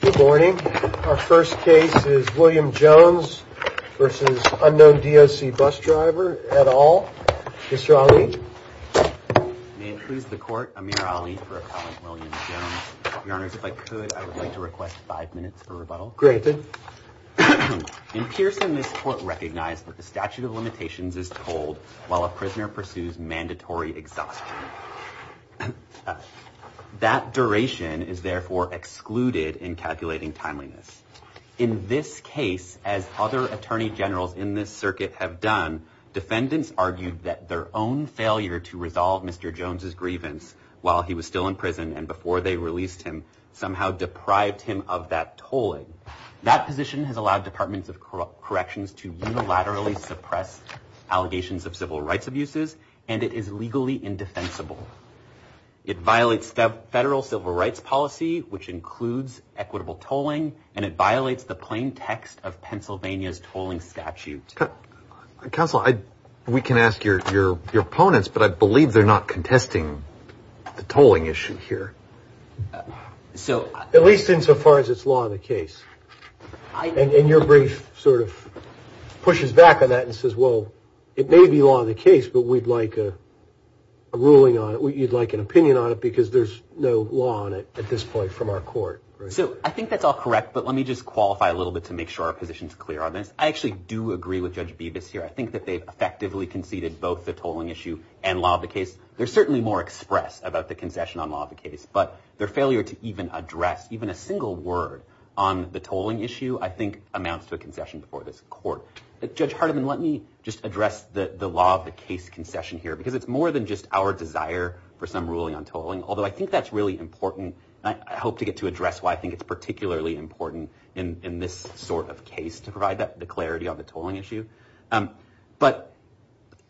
Good morning. Our first case is William Jones v. Unknown DOC Bus Driver, et al. Mr. Ali. May it please the Court, I'm Amir Ali for a colleague, William Jones. Your Honors, if I could, I would like to request five minutes for rebuttal. Granted. In Pearson, this Court recognized that the statute of limitations is told while a prisoner pursues mandatory exhaustion. That duration is therefore excluded in calculating timeliness. In this case, as other attorney generals in this circuit have done, defendants argued that their own failure to resolve Mr. Jones' grievance while he was still in prison and before they released him somehow deprived him of that tolling. That position has allowed Departments of Corrections to unilaterally suppress allegations of civil rights abuses and it is legally indefensible. It violates federal civil rights policy, which includes equitable tolling, and it violates the plain text of Pennsylvania's tolling statute. Counsel, we can ask your opponents, but I believe they're not contesting the tolling issue here. At least insofar as it's law in the case. And your brief sort of pushes back on that and says, well, it may be law in the case, but we'd like a ruling on it, you'd like an opinion on it, because there's no law on it at this point from our court. So I think that's all correct, but let me just qualify a little bit to make sure our position's clear on this. I actually do agree with Judge Bevis here. I think that they've effectively conceded both the tolling issue and law of the case. They're certainly more express about the concession on law of the case, but their failure to even address even a single word on the tolling issue, I think, amounts to a concession before this court. Judge Hardiman, let me just address the law of the case concession here, because it's more than just our desire for some ruling on tolling, although I think that's really important. I hope to get to address why I think it's particularly important in this sort of case to provide the clarity on the tolling issue. But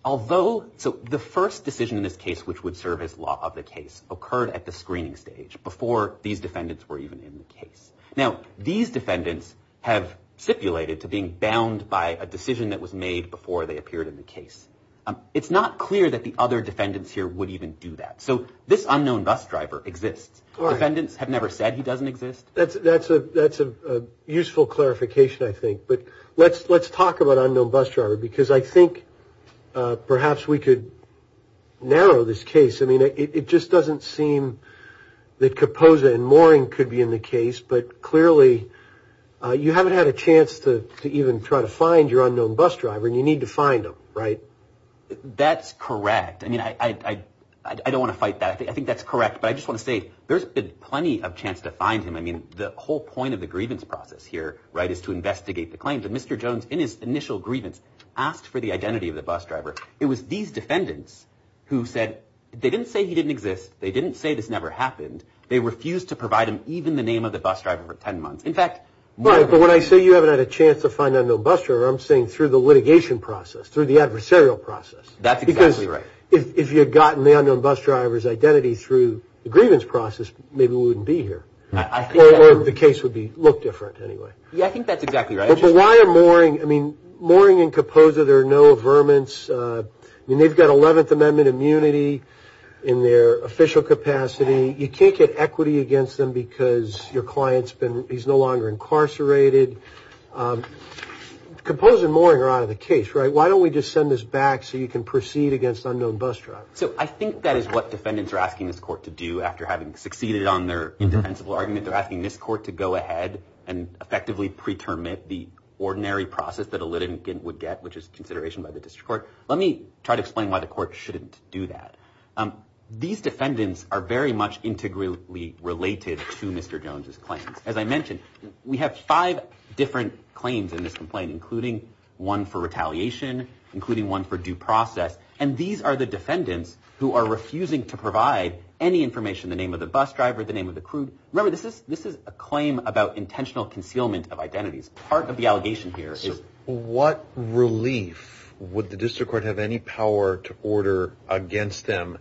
although the first decision in this case, which would serve as law of the case, occurred at the screening stage before these defendants were even in the case. Now, these defendants have stipulated to being bound by a decision that was made before they appeared in the case. It's not clear that the other defendants here would even do that. So this unknown bus driver exists. Defendants have never said he doesn't exist. That's a useful clarification, I think. But let's talk about unknown bus driver, because I think perhaps we could narrow this case. I mean, it just doesn't seem that Kaposa and Mooring could be in the case, but clearly you haven't had a chance to even try to find your unknown bus driver, and you need to find him, right? That's correct. I mean, I don't want to fight that. I think that's correct. But I just want to say there's been plenty of chance to find him. I mean, the whole point of the grievance process here, right, is to investigate the claims. And Mr. Jones, in his initial grievance, asked for the identity of the bus driver. It was these defendants who said they didn't say he didn't exist. They didn't say this never happened. They refused to provide him even the name of the bus driver for 10 months. In fact, more than that. Right, but when I say you haven't had a chance to find an unknown bus driver, I'm saying through the litigation process, through the adversarial process. That's exactly right. Because if you had gotten the unknown bus driver's identity through the grievance process, maybe we wouldn't be here. Or the case would look different, anyway. Yeah, I think that's exactly right. But why are Mooring, I mean, Mooring and Kopoza, there are no averments. I mean, they've got 11th Amendment immunity in their official capacity. You can't get equity against them because your client's been, he's no longer incarcerated. Kopoza and Mooring are out of the case, right? Why don't we just send this back so you can proceed against unknown bus drivers? So I think that is what defendants are asking this court to do after having succeeded on their indefensible argument. They're asking this court to go ahead and effectively pretermit the ordinary process that a litigant would get, which is consideration by the district court. Let me try to explain why the court shouldn't do that. These defendants are very much integrally related to Mr. Jones's claims. As I mentioned, we have five different claims in this complaint, including one for retaliation, including one for due process. And these are the defendants who are refusing to provide any information, the name of the bus driver, the name of the crew. Remember, this is a claim about intentional concealment of identities. Part of the allegation here is... So what relief would the district court have any power to order against them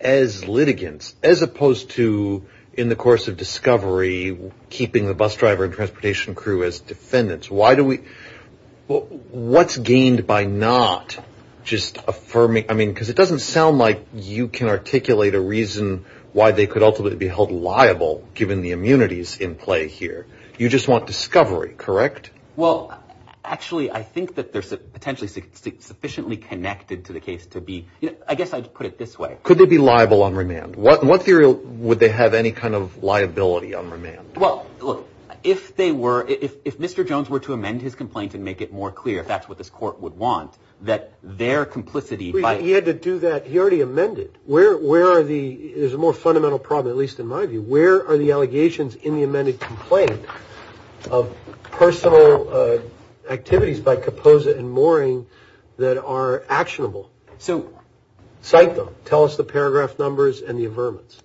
as litigants, as opposed to, in the course of discovery, keeping the bus driver and transportation crew as defendants? What's gained by not just affirming... I mean, because it doesn't sound like you can articulate a reason why they could ultimately be held liable, given the immunities in play here. You just want discovery, correct? Well, actually, I think that they're potentially sufficiently connected to the case to be... I guess I'd put it this way. Could they be liable on remand? In what theory would they have any kind of liability on remand? Well, look, if they were... If Mr. Jones were to amend his complaint and make it more clear, if that's what this court would want, that their complicity by... He had to do that. He already amended. Where are the... There's a more fundamental problem, at least in my view. Where are the allegations in the amended complaint of personal activities by Kaposa and Mooring that are actionable? So... Cite them. Tell us the paragraph numbers and the averments.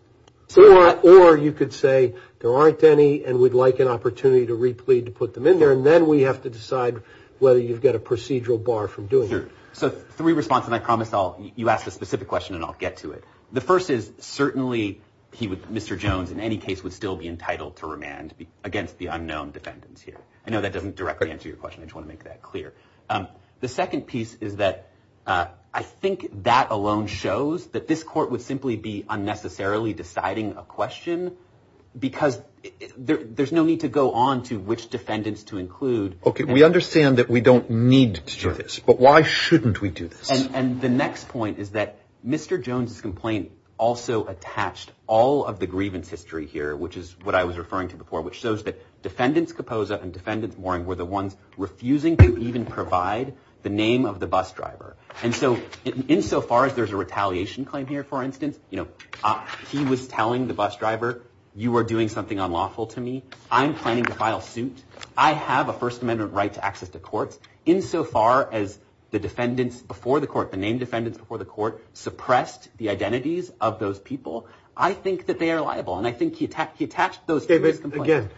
Or you could say, there aren't any, and we'd like an opportunity to replead to put them in there, and then we have to decide whether you've got a procedural bar from doing it. Sure. So three responses, and I promise I'll... You ask a specific question, and I'll get to it. The first is, certainly, he would... Mr. Jones, in any case, would still be entitled to remand against the unknown defendants here. I know that doesn't directly answer your question. I just want to make that clear. The second piece is that I think that alone shows that this court would simply be unnecessarily deciding a question because there's no need to go on to which defendants to include. Okay. We understand that we don't need to do this, but why shouldn't we do this? And the next point is that Mr. Jones's complaint also attached all of the grievance history here, which is what I was referring to before, which shows that defendants Capoza and defendants Mooring were the ones refusing to even provide the name of the bus driver. And so insofar as there's a retaliation claim here, for instance, he was telling the bus driver, you are doing something unlawful to me. I'm planning to file suit. I have a First Amendment right to access to courts. Insofar as the defendants before the court, the named defendants before the court, David, again,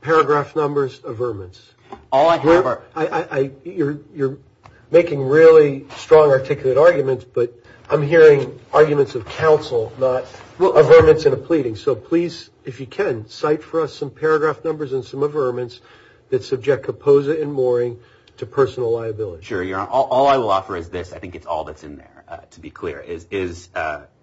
paragraph numbers, averments. You're making really strong articulate arguments, but I'm hearing arguments of counsel, not averments in a pleading. So please, if you can, cite for us some paragraph numbers and some averments that subject Capoza and Mooring to personal liability. Sure. All I will offer is this. I think it's all that's in there, to be clear, is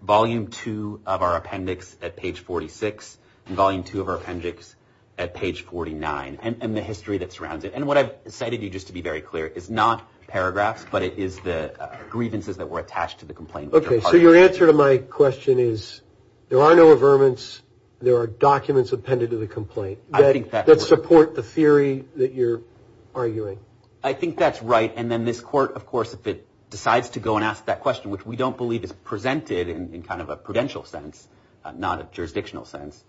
volume two of our appendix at page 46, and volume two of our appendix at page 49, and the history that surrounds it. And what I've cited you, just to be very clear, is not paragraphs, but it is the grievances that were attached to the complaint. Okay. So your answer to my question is there are no averments. There are documents appended to the complaint that support the theory that you're arguing. I think that's right. And then this court, of course, if it decides to go and ask that question, which we don't believe is presented in kind of a prudential sense, not a jurisdictional sense,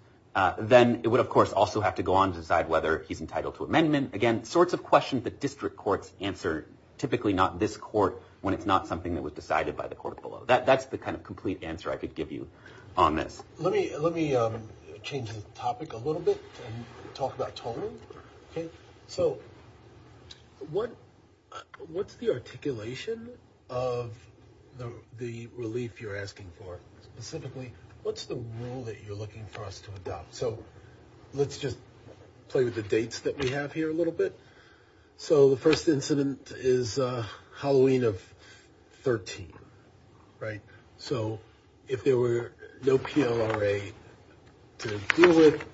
then it would, of course, also have to go on to decide whether he's entitled to amendment. Again, sorts of questions that district courts answer, typically not this court, when it's not something that was decided by the court below. That's the kind of complete answer I could give you on this. Let me change the topic a little bit and talk about tolling. So what's the articulation of the relief you're asking for? Specifically, what's the rule that you're looking for us to adopt? So let's just play with the dates that we have here a little bit. So the first incident is Halloween of 13, right? So if there were no PLRA to deal with,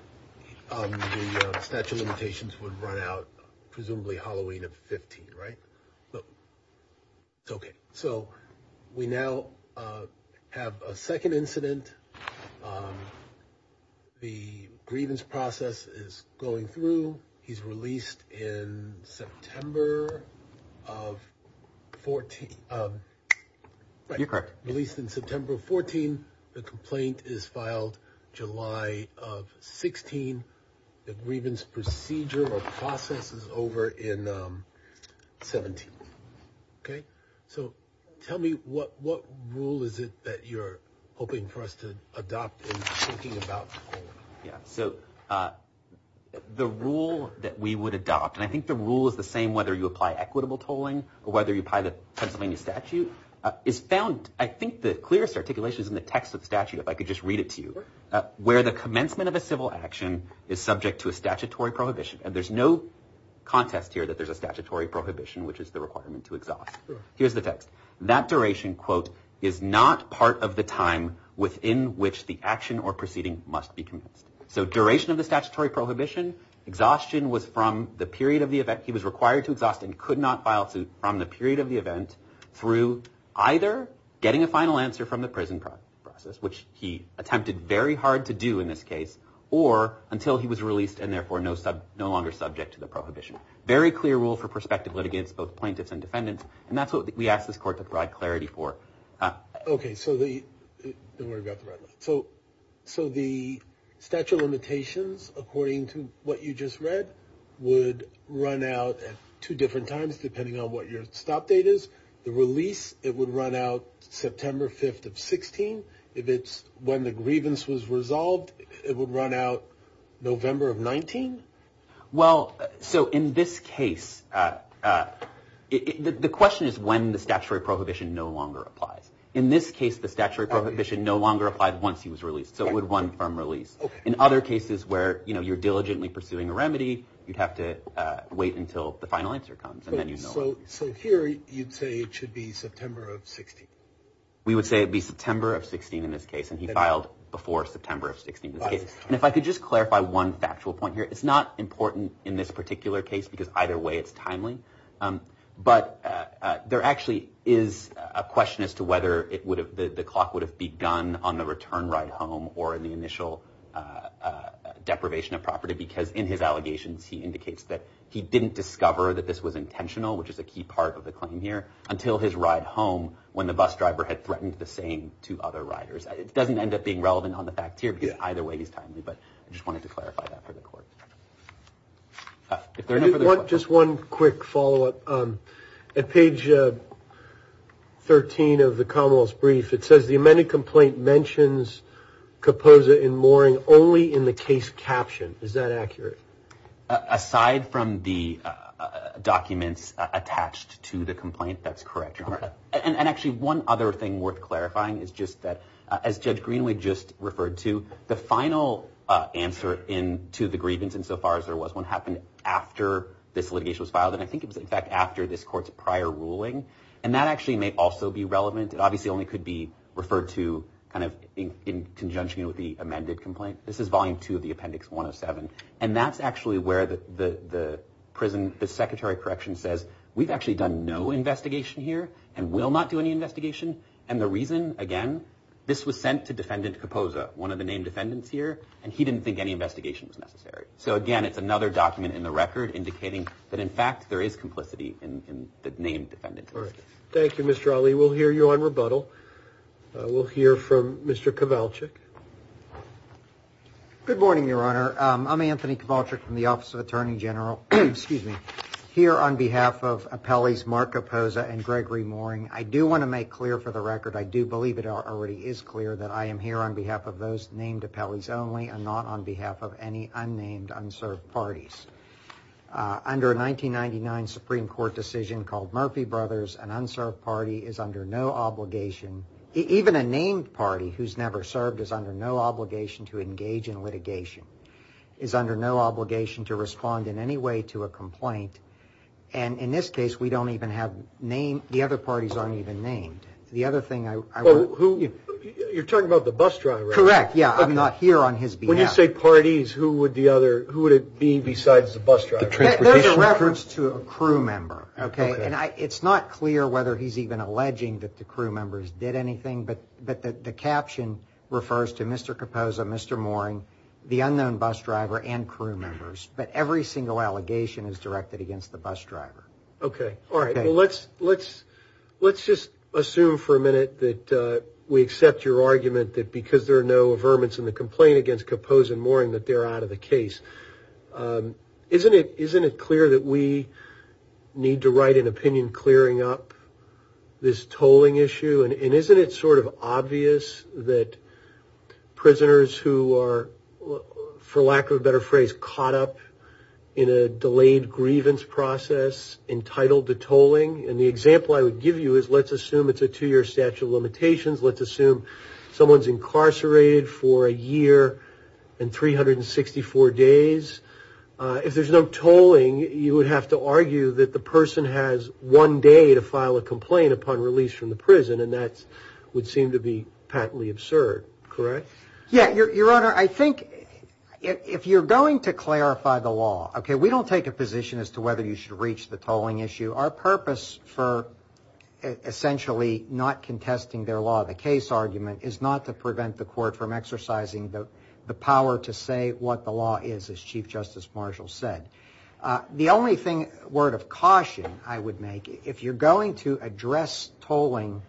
the statute of limitations would run out presumably Halloween of 15, right? So we now have a second incident. The grievance process is going through. He's released in September of 14. You're correct. Released in September of 14. The complaint is filed July of 16. The grievance procedure or process is over in 17. Okay. So tell me what rule is it that you're hoping for us to adopt in thinking about tolling? Yeah. So the rule that we would adopt, and I think the rule is the same whether you apply equitable tolling or whether you apply the Pennsylvania statute, is found, I think the clearest articulation is in the text of the statute, if I could just read it to you, where the commencement of a civil action is subject to a statutory prohibition. And there's no contest here that there's a statutory prohibition, which is the requirement to exhaust. Here's the text. That duration, quote, is not part of the time within which the action or proceeding must be commenced. So duration of the statutory prohibition, exhaustion was from the period of the event. He was required to exhaust and could not file from the period of the event through either getting a final answer from the prison process, which he attempted very hard to do in this case, or until he was released and therefore no longer subject to the prohibition. Very clear rule for prospective litigants, both plaintiffs and defendants. And that's what we asked this court to provide clarity for. Okay, so the statute of limitations, according to what you just read, would run out at two different times depending on what your stop date is. The release, it would run out September 5th of 16. If it's when the grievance was resolved, it would run out November of 19. Well, so in this case, the question is when the statutory prohibition no longer applies. In this case, the statutory prohibition no longer applied once he was released, so it would run from release. In other cases where, you know, you're diligently pursuing a remedy, you'd have to wait until the final answer comes. So here you'd say it should be September of 16. We would say it'd be September of 16 in this case, and he filed before September of 16. And if I could just clarify one factual point here, it's not important in this particular case because either way it's timely, but there actually is a question as to whether the clock would have begun on the return ride home or in the initial deprivation of property because in his allegations he indicates that he didn't discover that this was intentional, which is a key part of the claim here, until his ride home when the bus driver had threatened the same to other riders. It doesn't end up being relevant on the fact tier because either way he's timely, but I just wanted to clarify that for the court. If there are no further questions. Just one quick follow-up. At page 13 of the Commonwealth's brief, it says the amended complaint mentions Kapoza in mooring only in the case caption. Is that accurate? Aside from the documents attached to the complaint, that's correct, Your Honor. And actually one other thing worth clarifying is just that as Judge Greenway just referred to, the final answer to the grievance insofar as there was one happened after this litigation was filed, and I think it was in fact after this court's prior ruling, and that actually may also be relevant. It obviously only could be referred to kind of in conjunction with the amended complaint. This is volume two of the appendix 107, and that's actually where the prison, the secretary of corrections says, we've actually done no investigation here and will not do any investigation. And the reason, again, this was sent to Defendant Kapoza, one of the named defendants here, and he didn't think any investigation was necessary. So, again, it's another document in the record indicating that, in fact, there is complicity in the named defendant. Thank you, Mr. Ali. We'll hear you on rebuttal. We'll hear from Mr. Kowalczyk. Good morning, Your Honor. I'm Anthony Kowalczyk from the Office of Attorney General here on behalf of appellees Mark Kapoza and Gregory Mooring. I do want to make clear for the record, I do believe it already is clear, that I am here on behalf of those named appellees only and not on behalf of any unnamed, unserved parties. Under a 1999 Supreme Court decision called Murphy Brothers, an unserved party is under no obligation, even a named party who's never served is under no obligation to engage in litigation, is under no obligation to respond in any way to a complaint. And in this case, we don't even have names. The other parties aren't even named. The other thing I want... You're talking about the bus driver. Correct, yeah. I'm not here on his behalf. When you say parties, who would it be besides the bus driver? There's a reference to a crew member, okay? And it's not clear whether he's even alleging that the crew members did anything, but the caption refers to Mr. Kapoza, Mr. Mooring, the unknown bus driver, and crew members. But every single allegation is directed against the bus driver. Okay, all right. Well, let's just assume for a minute that we accept your argument that because there are no averments in the complaint against Kapoza and Mooring that they're out of the case. Isn't it clear that we need to write an opinion clearing up this tolling issue? And isn't it sort of obvious that prisoners who are, for lack of a better phrase, caught up in a delayed grievance process entitled to tolling? And the example I would give you is let's assume it's a two-year statute of limitations. Let's assume someone's incarcerated for a year and 364 days. If there's no tolling, you would have to argue that the person has one day to file a complaint upon release from the prison, and that would seem to be patently absurd, correct? Yeah. Your Honor, I think if you're going to clarify the law, okay, we don't take a position as to whether you should reach the tolling issue. Our purpose for essentially not contesting their law, the case argument, is not to prevent the court from exercising the power to say what the law is, as Chief Justice Marshall said. The only word of caution I would make, if you're going to address tolling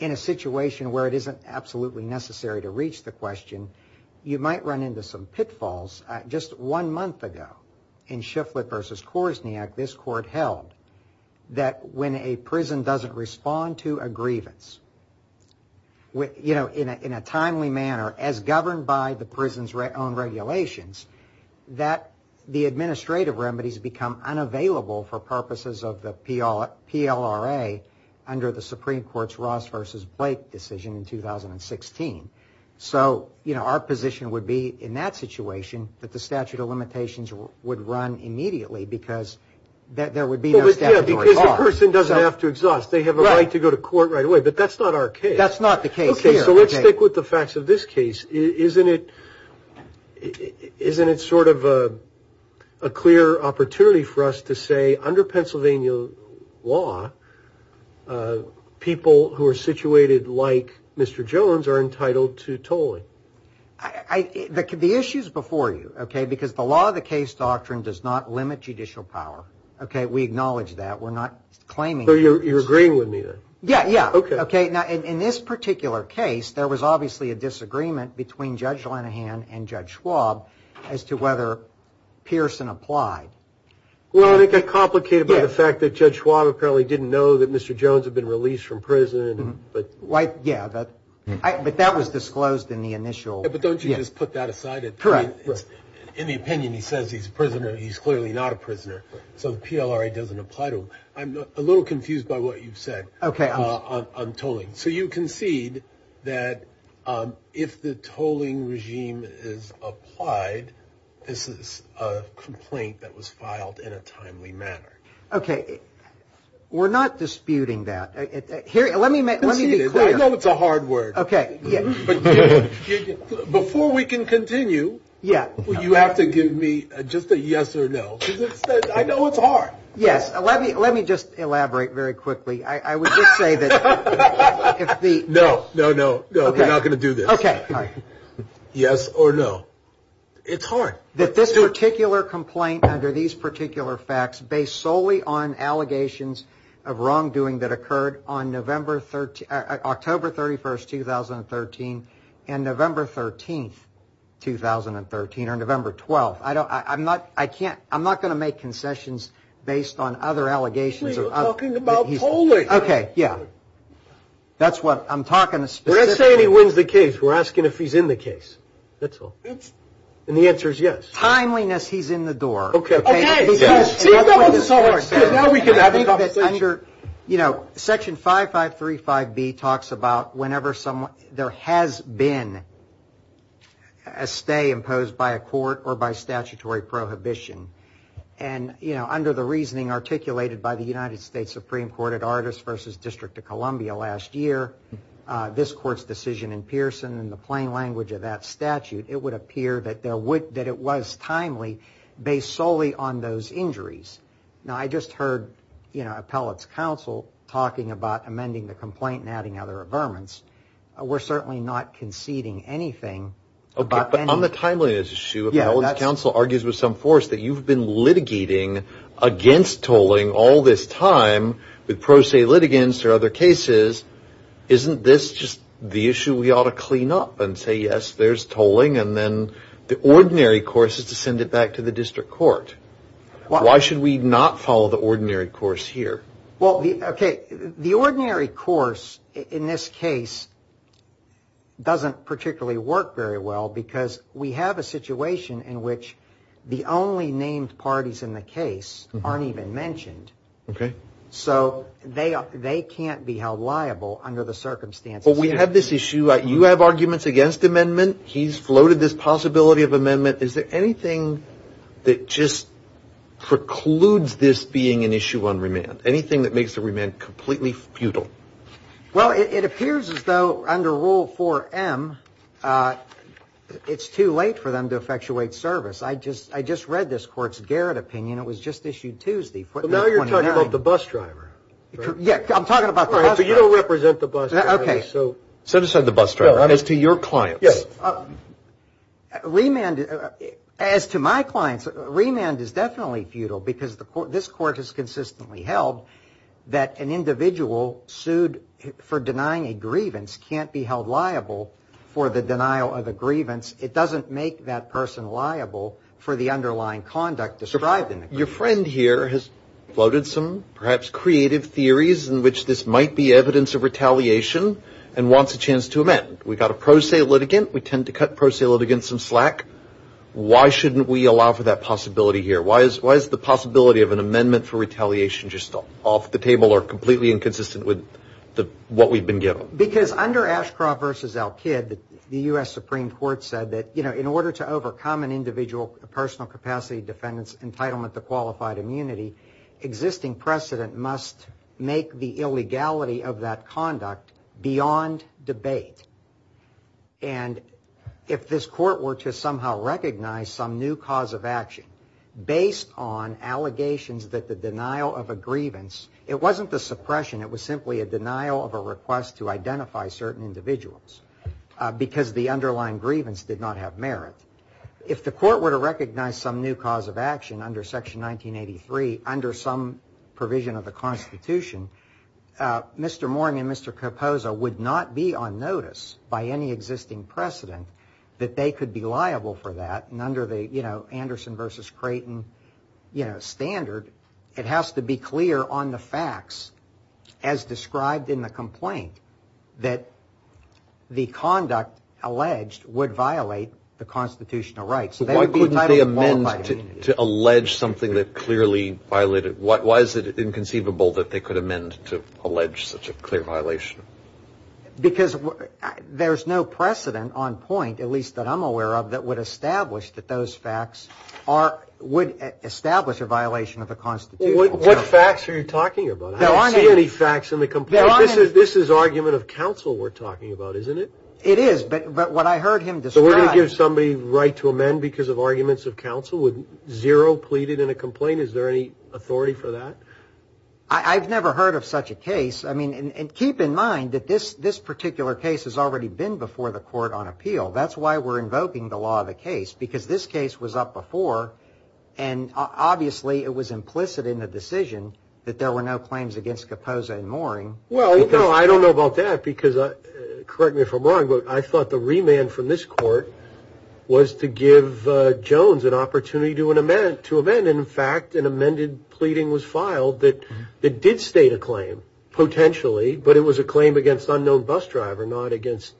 in a situation where it isn't absolutely necessary to reach the question, you might run into some pitfalls. Just one month ago, in Shifflett v. Korsniak, this court held that when a prison doesn't respond to a grievance in a timely manner, as governed by the prison's own regulations, that the administrative remedies become unavailable for purposes of the PLRA under the Supreme Court's Ross v. Blake decision in 2016. So our position would be in that situation that the statute of limitations would run immediately because there would be no statutory charge. Because the person doesn't have to exhaust. They have a right to go to court right away, but that's not our case. That's not the case here. Okay, so let's stick with the facts of this case. Isn't it sort of a clear opportunity for us to say, under Pennsylvania law, people who are situated like Mr. Jones are entitled to tolling? The issue's before you, okay, because the law of the case doctrine does not limit judicial power. Okay, we acknowledge that. We're not claiming that. So you're agreeing with me then? Yeah, yeah. Okay. Now, in this particular case, there was obviously a disagreement between Judge Lenahan and Judge Schwab as to whether Pearson applied. Well, it got complicated by the fact that Judge Schwab apparently didn't know that Mr. Jones had been released from prison. Yeah, but that was disclosed in the initial. But don't you just put that aside? In the opinion, he says he's a prisoner. He's clearly not a prisoner. So the PLRA doesn't apply to him. I'm a little confused by what you've said on tolling. So you concede that if the tolling regime is applied, this is a complaint that was filed in a timely manner. Okay. We're not disputing that. Let me be clear. I know it's a hard word. Okay. But before we can continue, you have to give me just a yes or no, because I know it's hard. Yes. Let me just elaborate very quickly. I would just say that if the. No, no, no, no. We're not going to do this. Okay. Yes or no. It's hard. That this particular complaint under these particular facts based solely on allegations of wrongdoing that occurred on October 31st, 2013, and November 13th, 2013, or November 12th. I'm not going to make concessions based on other allegations. Actually, you're talking about tolling. Okay. Yeah. That's what I'm talking about. We're not saying he wins the case. We're asking if he's in the case. That's all. And the answer is yes. Timeliness, he's in the door. Okay. Okay. Now we can have a conversation. You know, Section 5535B talks about whenever there has been a stay imposed by a court or by statutory prohibition. And, you know, under the reasoning articulated by the United States Supreme Court at Artists v. District of Columbia last year, this court's decision in Pearson and the plain language of that statute, it would appear that it was timely based solely on those injuries. Now, I just heard, you know, appellate's counsel talking about amending the complaint and adding other averments. We're certainly not conceding anything. Okay. But on the timeliness issue, appellate's counsel argues with some force that you've been litigating against tolling all this time with pro se litigants or other cases. Isn't this just the issue we ought to clean up and say, yes, there's tolling, and then the ordinary course is to send it back to the district court? Why should we not follow the ordinary course here? Well, okay. The ordinary course in this case doesn't particularly work very well because we have a situation in which the only named parties in the case aren't even mentioned. Okay. So they can't be held liable under the circumstances. But we have this issue. You have arguments against amendment. He's floated this possibility of amendment. Is there anything that just precludes this being an issue on remand? Anything that makes the remand completely futile? Well, it appears as though under Rule 4M, it's too late for them to effectuate service. I just read this court's Garrett opinion. It was just issued Tuesday. But now you're talking about the bus driver. Yeah, I'm talking about the bus driver. But you don't represent the bus driver. Okay. So decide the bus driver. As to your clients. Yes. Remand, as to my clients, remand is definitely futile because this court has consistently held that an individual sued for denying a grievance can't be held liable for the denial of a grievance. It doesn't make that person liable for the underlying conduct described in the grievance. Your friend here has floated some perhaps creative theories in which this might be evidence of retaliation and wants a chance to amend. We've got a pro se litigant. We tend to cut pro se litigants some slack. Why shouldn't we allow for that possibility here? Why is the possibility of an amendment for retaliation just off the table or completely inconsistent with what we've been given? Because under Ashcroft v. Elkid, the U.S. Supreme Court said that, you know, in order to overcome an individual personal capacity defendant's entitlement to qualified immunity, existing precedent must make the illegality of that conduct beyond debate. And if this court were to somehow recognize some new cause of action based on allegations that the denial of a grievance, it wasn't the suppression, it was simply a denial of a request to identify certain individuals because the underlying grievance did not have merit. If the court were to recognize some new cause of action under Section 1983, under some provision of the Constitution, Mr. Moring and Mr. Capoza would not be on notice by any existing precedent that they could be liable for that. And under the, you know, Anderson versus Creighton standard, it has to be clear on the facts as described in the complaint that the conduct alleged would violate the constitutional rights. So why couldn't they amend to allege something that clearly violated, why is it inconceivable that they could amend to allege such a clear violation? Because there's no precedent on point, at least that I'm aware of, that would establish that those facts would establish a violation of the Constitution. What facts are you talking about? I don't see any facts in the complaint. This is argument of counsel we're talking about, isn't it? It is, but what I heard him describe. So we're going to give somebody right to amend because of arguments of counsel with zero pleaded in a complaint. Is there any authority for that? I've never heard of such a case. I mean, and keep in mind that this this particular case has already been before the court on appeal. That's why we're invoking the law of the case, because this case was up before. And obviously it was implicit in the decision that there were no claims against Capoza and Moring. Well, I don't know about that because, correct me if I'm wrong, but I thought the remand from this court was to give Jones an opportunity to amend. In fact, an amended pleading was filed that did state a claim potentially, but it was a claim against unknown bus driver, not against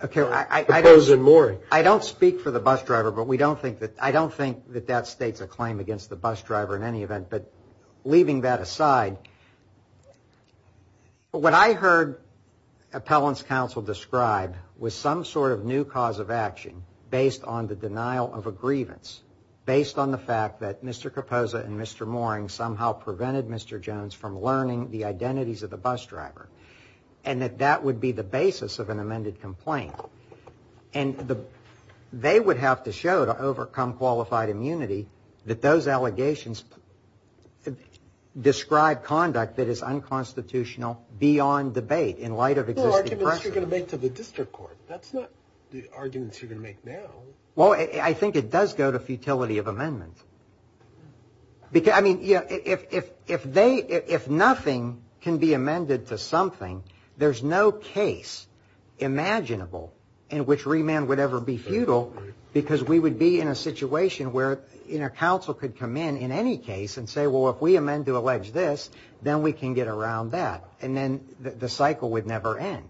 Capoza and Moring. I don't speak for the bus driver, but I don't think that that states a claim against the bus driver in any event. But leaving that aside, what I heard appellants counsel describe was some sort of new cause of action based on the denial of a grievance, based on the fact that Mr. Capoza and Mr. Moring somehow prevented Mr. Jones from learning the identities of the bus driver and that that would be the basis of an amended complaint. And they would have to show to overcome qualified immunity that those allegations describe conduct that is unconstitutional beyond debate in light of existing precedent. The arguments you're going to make to the district court, that's not the arguments you're going to make now. Well, I think it does go to futility of amendment. Because, I mean, if they if nothing can be amended to something, there's no case imaginable in which remand would ever be futile, because we would be in a situation where, you know, counsel could come in in any case and say, well, if we amend to allege this, then we can get around that and then the cycle would never end.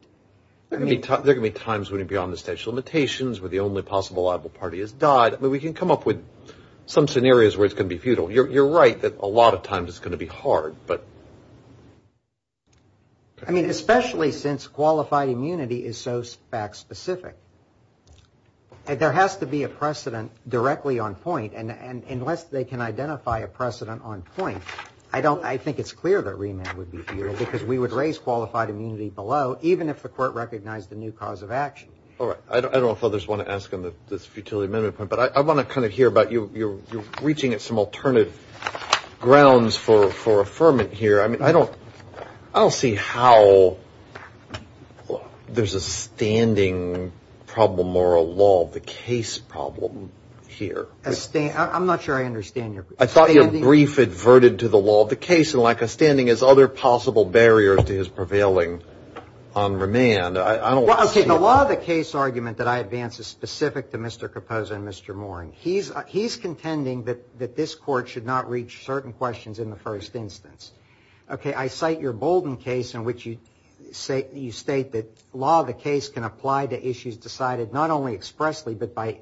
I mean, there can be times when it beyond the statute of limitations where the only possible liable party is died. But we can come up with some scenarios where it's going to be futile. You're right that a lot of times it's going to be hard, but. I mean, especially since qualified immunity is so fact specific. And there has to be a precedent directly on point. And unless they can identify a precedent on point, I don't I think it's clear that remand would be futile because we would raise qualified immunity below, even if the court recognized the new cause of action. All right. I don't know if others want to ask on this futility amendment. But I want to kind of hear about you. You're reaching at some alternative grounds for for affirmant here. I mean, I don't I don't see how there's a standing problem or a law, the case problem here. I'm not sure I understand. I thought your brief adverted to the law of the case. And like a standing is other possible barriers to his prevailing on remand. I don't think a lot of the case argument that I advance is specific to Mr. Caposa and Mr. Moring. He's he's contending that that this court should not reach certain questions in the first instance. OK, I cite your Bolden case in which you say you state that law, the case can apply to issues decided not only expressly, but by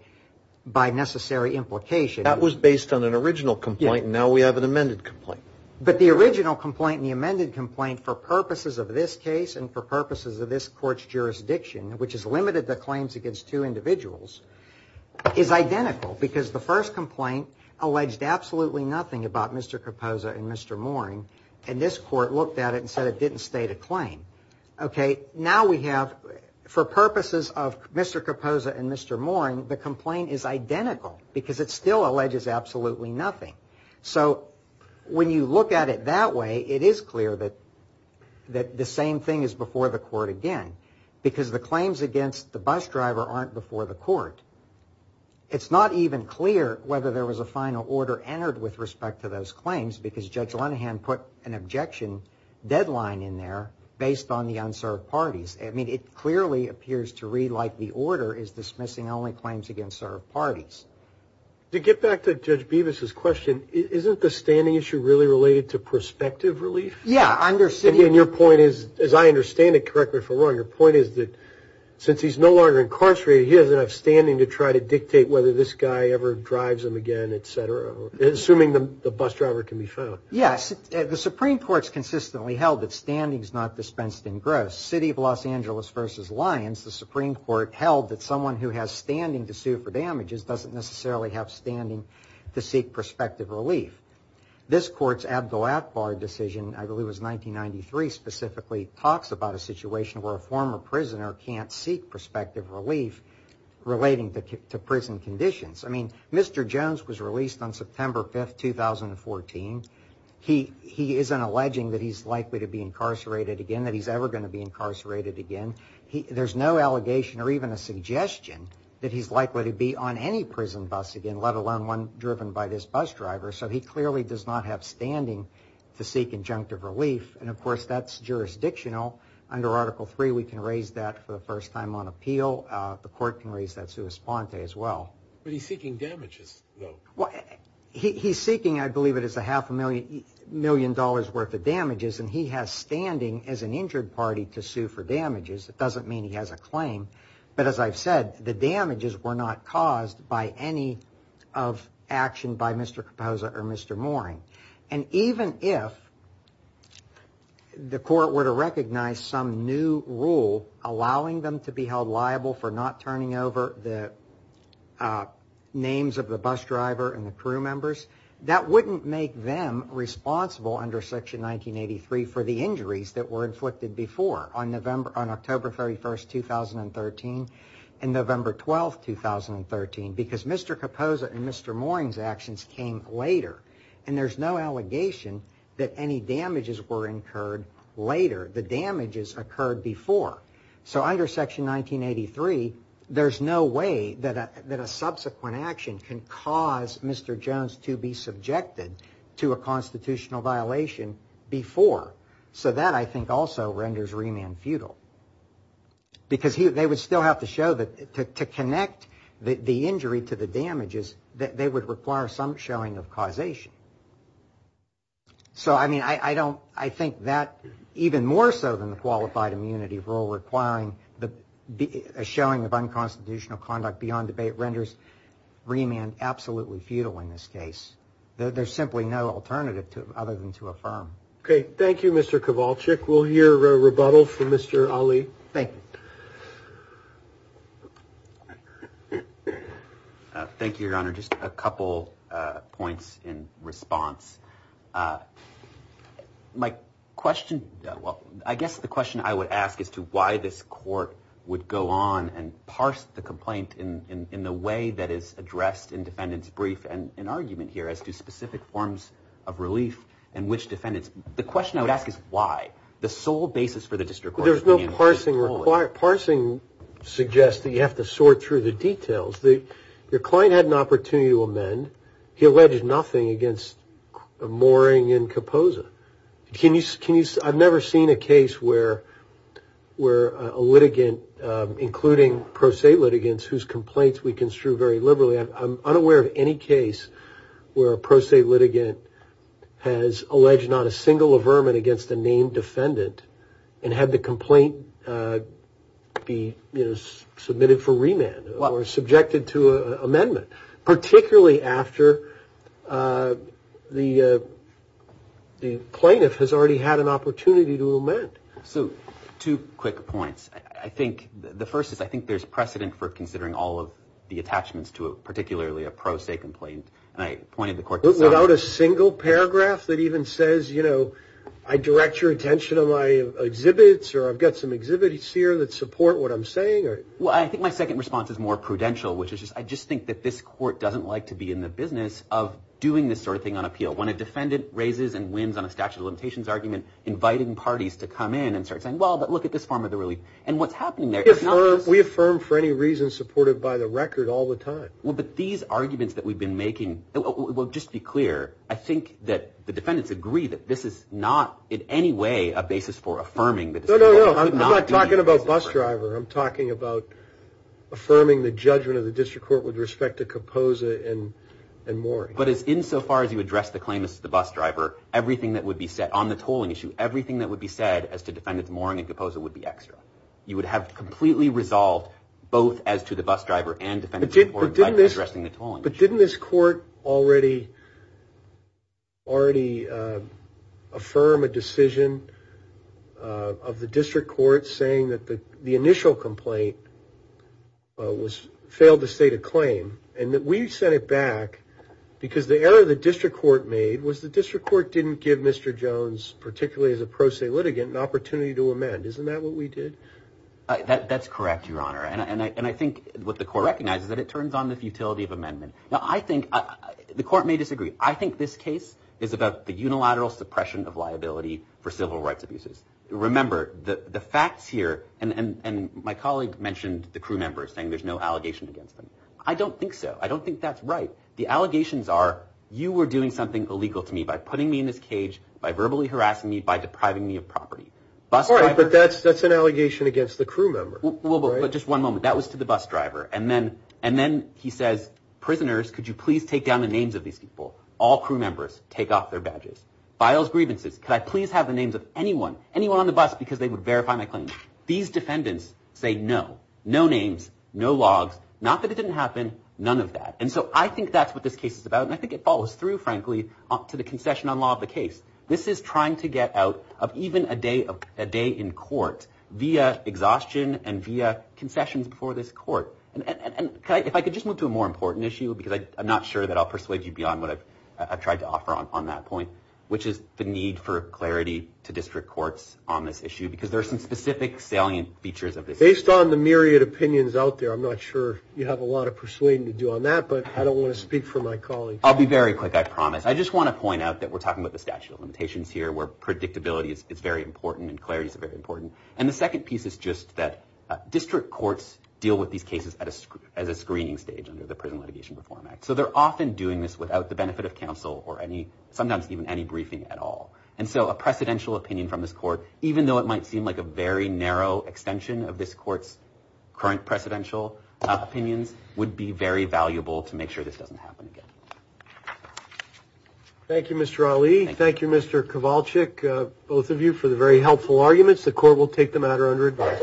by necessary implication. That was based on an original complaint. Now we have an amended complaint. But the original complaint, the amended complaint for purposes of this case and for purposes of this court's jurisdiction, which is limited the claims against two individuals, is identical because the first complaint alleged absolutely nothing about Mr. Caposa and Mr. Moring. And this court looked at it and said it didn't state a claim. OK, now we have for purposes of Mr. Caposa and Mr. Moring, the complaint is identical because it still alleges absolutely nothing. So when you look at it that way, it is clear that that the same thing is before the court again, because the claims against the bus driver aren't before the court. It's not even clear whether there was a final order entered with respect to those claims because Judge Linehan put an objection deadline in there based on the unserved parties. I mean, it clearly appears to read like the order is dismissing only claims against served parties. To get back to Judge Beavis's question, isn't the standing issue really related to perspective relief? Yeah, I understand. And your point is, as I understand it, correct me if I'm wrong, your point is that since he's no longer incarcerated, he doesn't have standing to try to dictate whether this guy ever drives him again, et cetera, assuming the bus driver can be found. Yes. The Supreme Court's consistently held that standing is not dispensed in gross. Angeles versus Lyons, the Supreme Court held that someone who has standing to sue for damages doesn't necessarily have standing to seek perspective relief. This court's Abdul Akbar decision, I believe was 1993, specifically talks about a situation where a former prisoner can't seek perspective relief relating to prison conditions. I mean, Mr. Jones was released on September 5th, 2014. He isn't alleging that he's likely to be incarcerated again, that he's ever going to be incarcerated again. There's no allegation or even a suggestion that he's likely to be on any prison bus again, let alone one driven by this bus driver. So he clearly does not have standing to seek injunctive relief. And of course, that's jurisdictional. Under Article III, we can raise that for the first time on appeal. The court can raise that sua sponte as well. But he's seeking damages, though. He's seeking, I believe it is a half a million dollars worth of damages. And he has standing as an injured party to sue for damages. It doesn't mean he has a claim. But as I've said, the damages were not caused by any of action by Mr. Capoza or Mr. Mooring. And even if the court were to recognize some new rule allowing them to be held liable for not turning over the names of the bus driver and the crew members, that wouldn't make them responsible under Section 1983 for the injuries that were inflicted before on October 31st, 2013 and November 12th, 2013. Because Mr. Capoza and Mr. Mooring's actions came later. And there's no allegation that any damages were incurred later. The damages occurred before. So under Section 1983, there's no way that a subsequent action can cause Mr. Jones to be subjected to a constitutional violation before. So that, I think, also renders remand futile because they would still have to show that to connect the injury to the damages that they would require some showing of causation. So, I mean, I don't I think that even more so than the qualified immunity rule requiring the showing of unconstitutional conduct beyond debate renders remand absolutely futile in this case. There's simply no alternative to other than to affirm. OK. Thank you, Mr. Kowalczyk. We'll hear a rebuttal from Mr. Ali. Thank you, Your Honor. Just a couple points in response. My question, well, I guess the question I would ask is to why this court would go on and parse the complaint in the way that is addressed in defendant's brief and an argument here as to specific forms of relief and which defendants. The question I would ask is why? The sole basis for the district court. There's no parsing required. Parsing suggests that you have to sort through the details. Your client had an opportunity to amend. He alleged nothing against the mooring in Kaposa. Can you can you I've never seen a case where where a litigant, including pro se litigants whose complaints we construe very liberally. I'm unaware of any case where a pro se litigant has alleged not a single averment against a named defendant and had the complaint be submitted for remand or subjected to amendment, particularly after the plaintiff has already had an opportunity to amend. So two quick points. I think the first is I think there's precedent for considering all of the attachments to a particularly a pro se complaint. And I pointed the court without a single paragraph that even says, you know, I direct your attention to my exhibits or I've got some exhibits here that support what I'm saying. Well, I think my second response is more prudential, which is I just think that this court doesn't like to be in the business of doing this sort of thing on appeal when a defendant raises and wins on a statute of limitations argument, inviting parties to come in and start saying, well, but look at this form of the relief and what's happening there. We affirm for any reason supported by the record all the time. Well, but these arguments that we've been making will just be clear. I think that the defendants agree that this is not in any way a basis for affirming that. No, no, no. I'm not talking about bus driver. I'm talking about affirming the judgment of the district court with respect to compose it and and more. But as insofar as you address the claimants, the bus driver, everything that would be set on the tolling issue, everything that would be said as to defendants mooring and composing would be extra. You would have completely resolved both as to the bus driver and did this. But didn't this court already already affirm a decision of the district court saying that the initial complaint was failed to state a claim and that we sent it back because the error of the district court made was the district court didn't give Mr. Jones, particularly as a pro se litigant, an opportunity to amend. Isn't that what we did? That's correct, Your Honor. And I think what the court recognizes that it turns on the futility of amendment. Now, I think the court may disagree. I think this case is about the unilateral suppression of liability for civil rights abuses. Remember the facts here. And my colleague mentioned the crew members saying there's no allegation against them. I don't think so. I don't think that's right. The allegations are you were doing something illegal to me by putting me in this cage, by verbally harassing me, by depriving me of property. But that's that's an allegation against the crew member. But just one moment. That was to the bus driver. And then and then he says, prisoners, could you please take down the names of these people? All crew members take off their badges, files, grievances. Could I please have the names of anyone, anyone on the bus? Because they would verify my claim. These defendants say no, no names, no logs. Not that it didn't happen. None of that. And so I think that's what this case is about. And I think it follows through, frankly, to the concession on law of the case. This is trying to get out of even a day of a day in court via exhaustion and via concessions before this court. And if I could just move to a more important issue, because I'm not sure that I'll persuade you beyond what I've tried to offer on that point, which is the need for clarity to district courts on this issue, because there are some specific salient features of this. Based on the myriad opinions out there, I'm not sure you have a lot of persuading to do on that, but I don't want to speak for my colleagues. I'll be very quick. I promise. I just want to point out that we're talking about the statute of limitations here, where predictability is very important and clarity is very important. And the second piece is just that district courts deal with these cases as a screening stage under the Prison Litigation Reform Act. So they're often doing this without the benefit of counsel or any sometimes even any briefing at all. And so a precedential opinion from this court, even though it might seem like a very narrow extension of this court's current precedential opinions, would be very valuable to make sure this doesn't happen again. Thank you, Mr. Ali. Thank you, Mr. Kowalczyk. Both of you for the very helpful arguments. The court will take the matter under advice.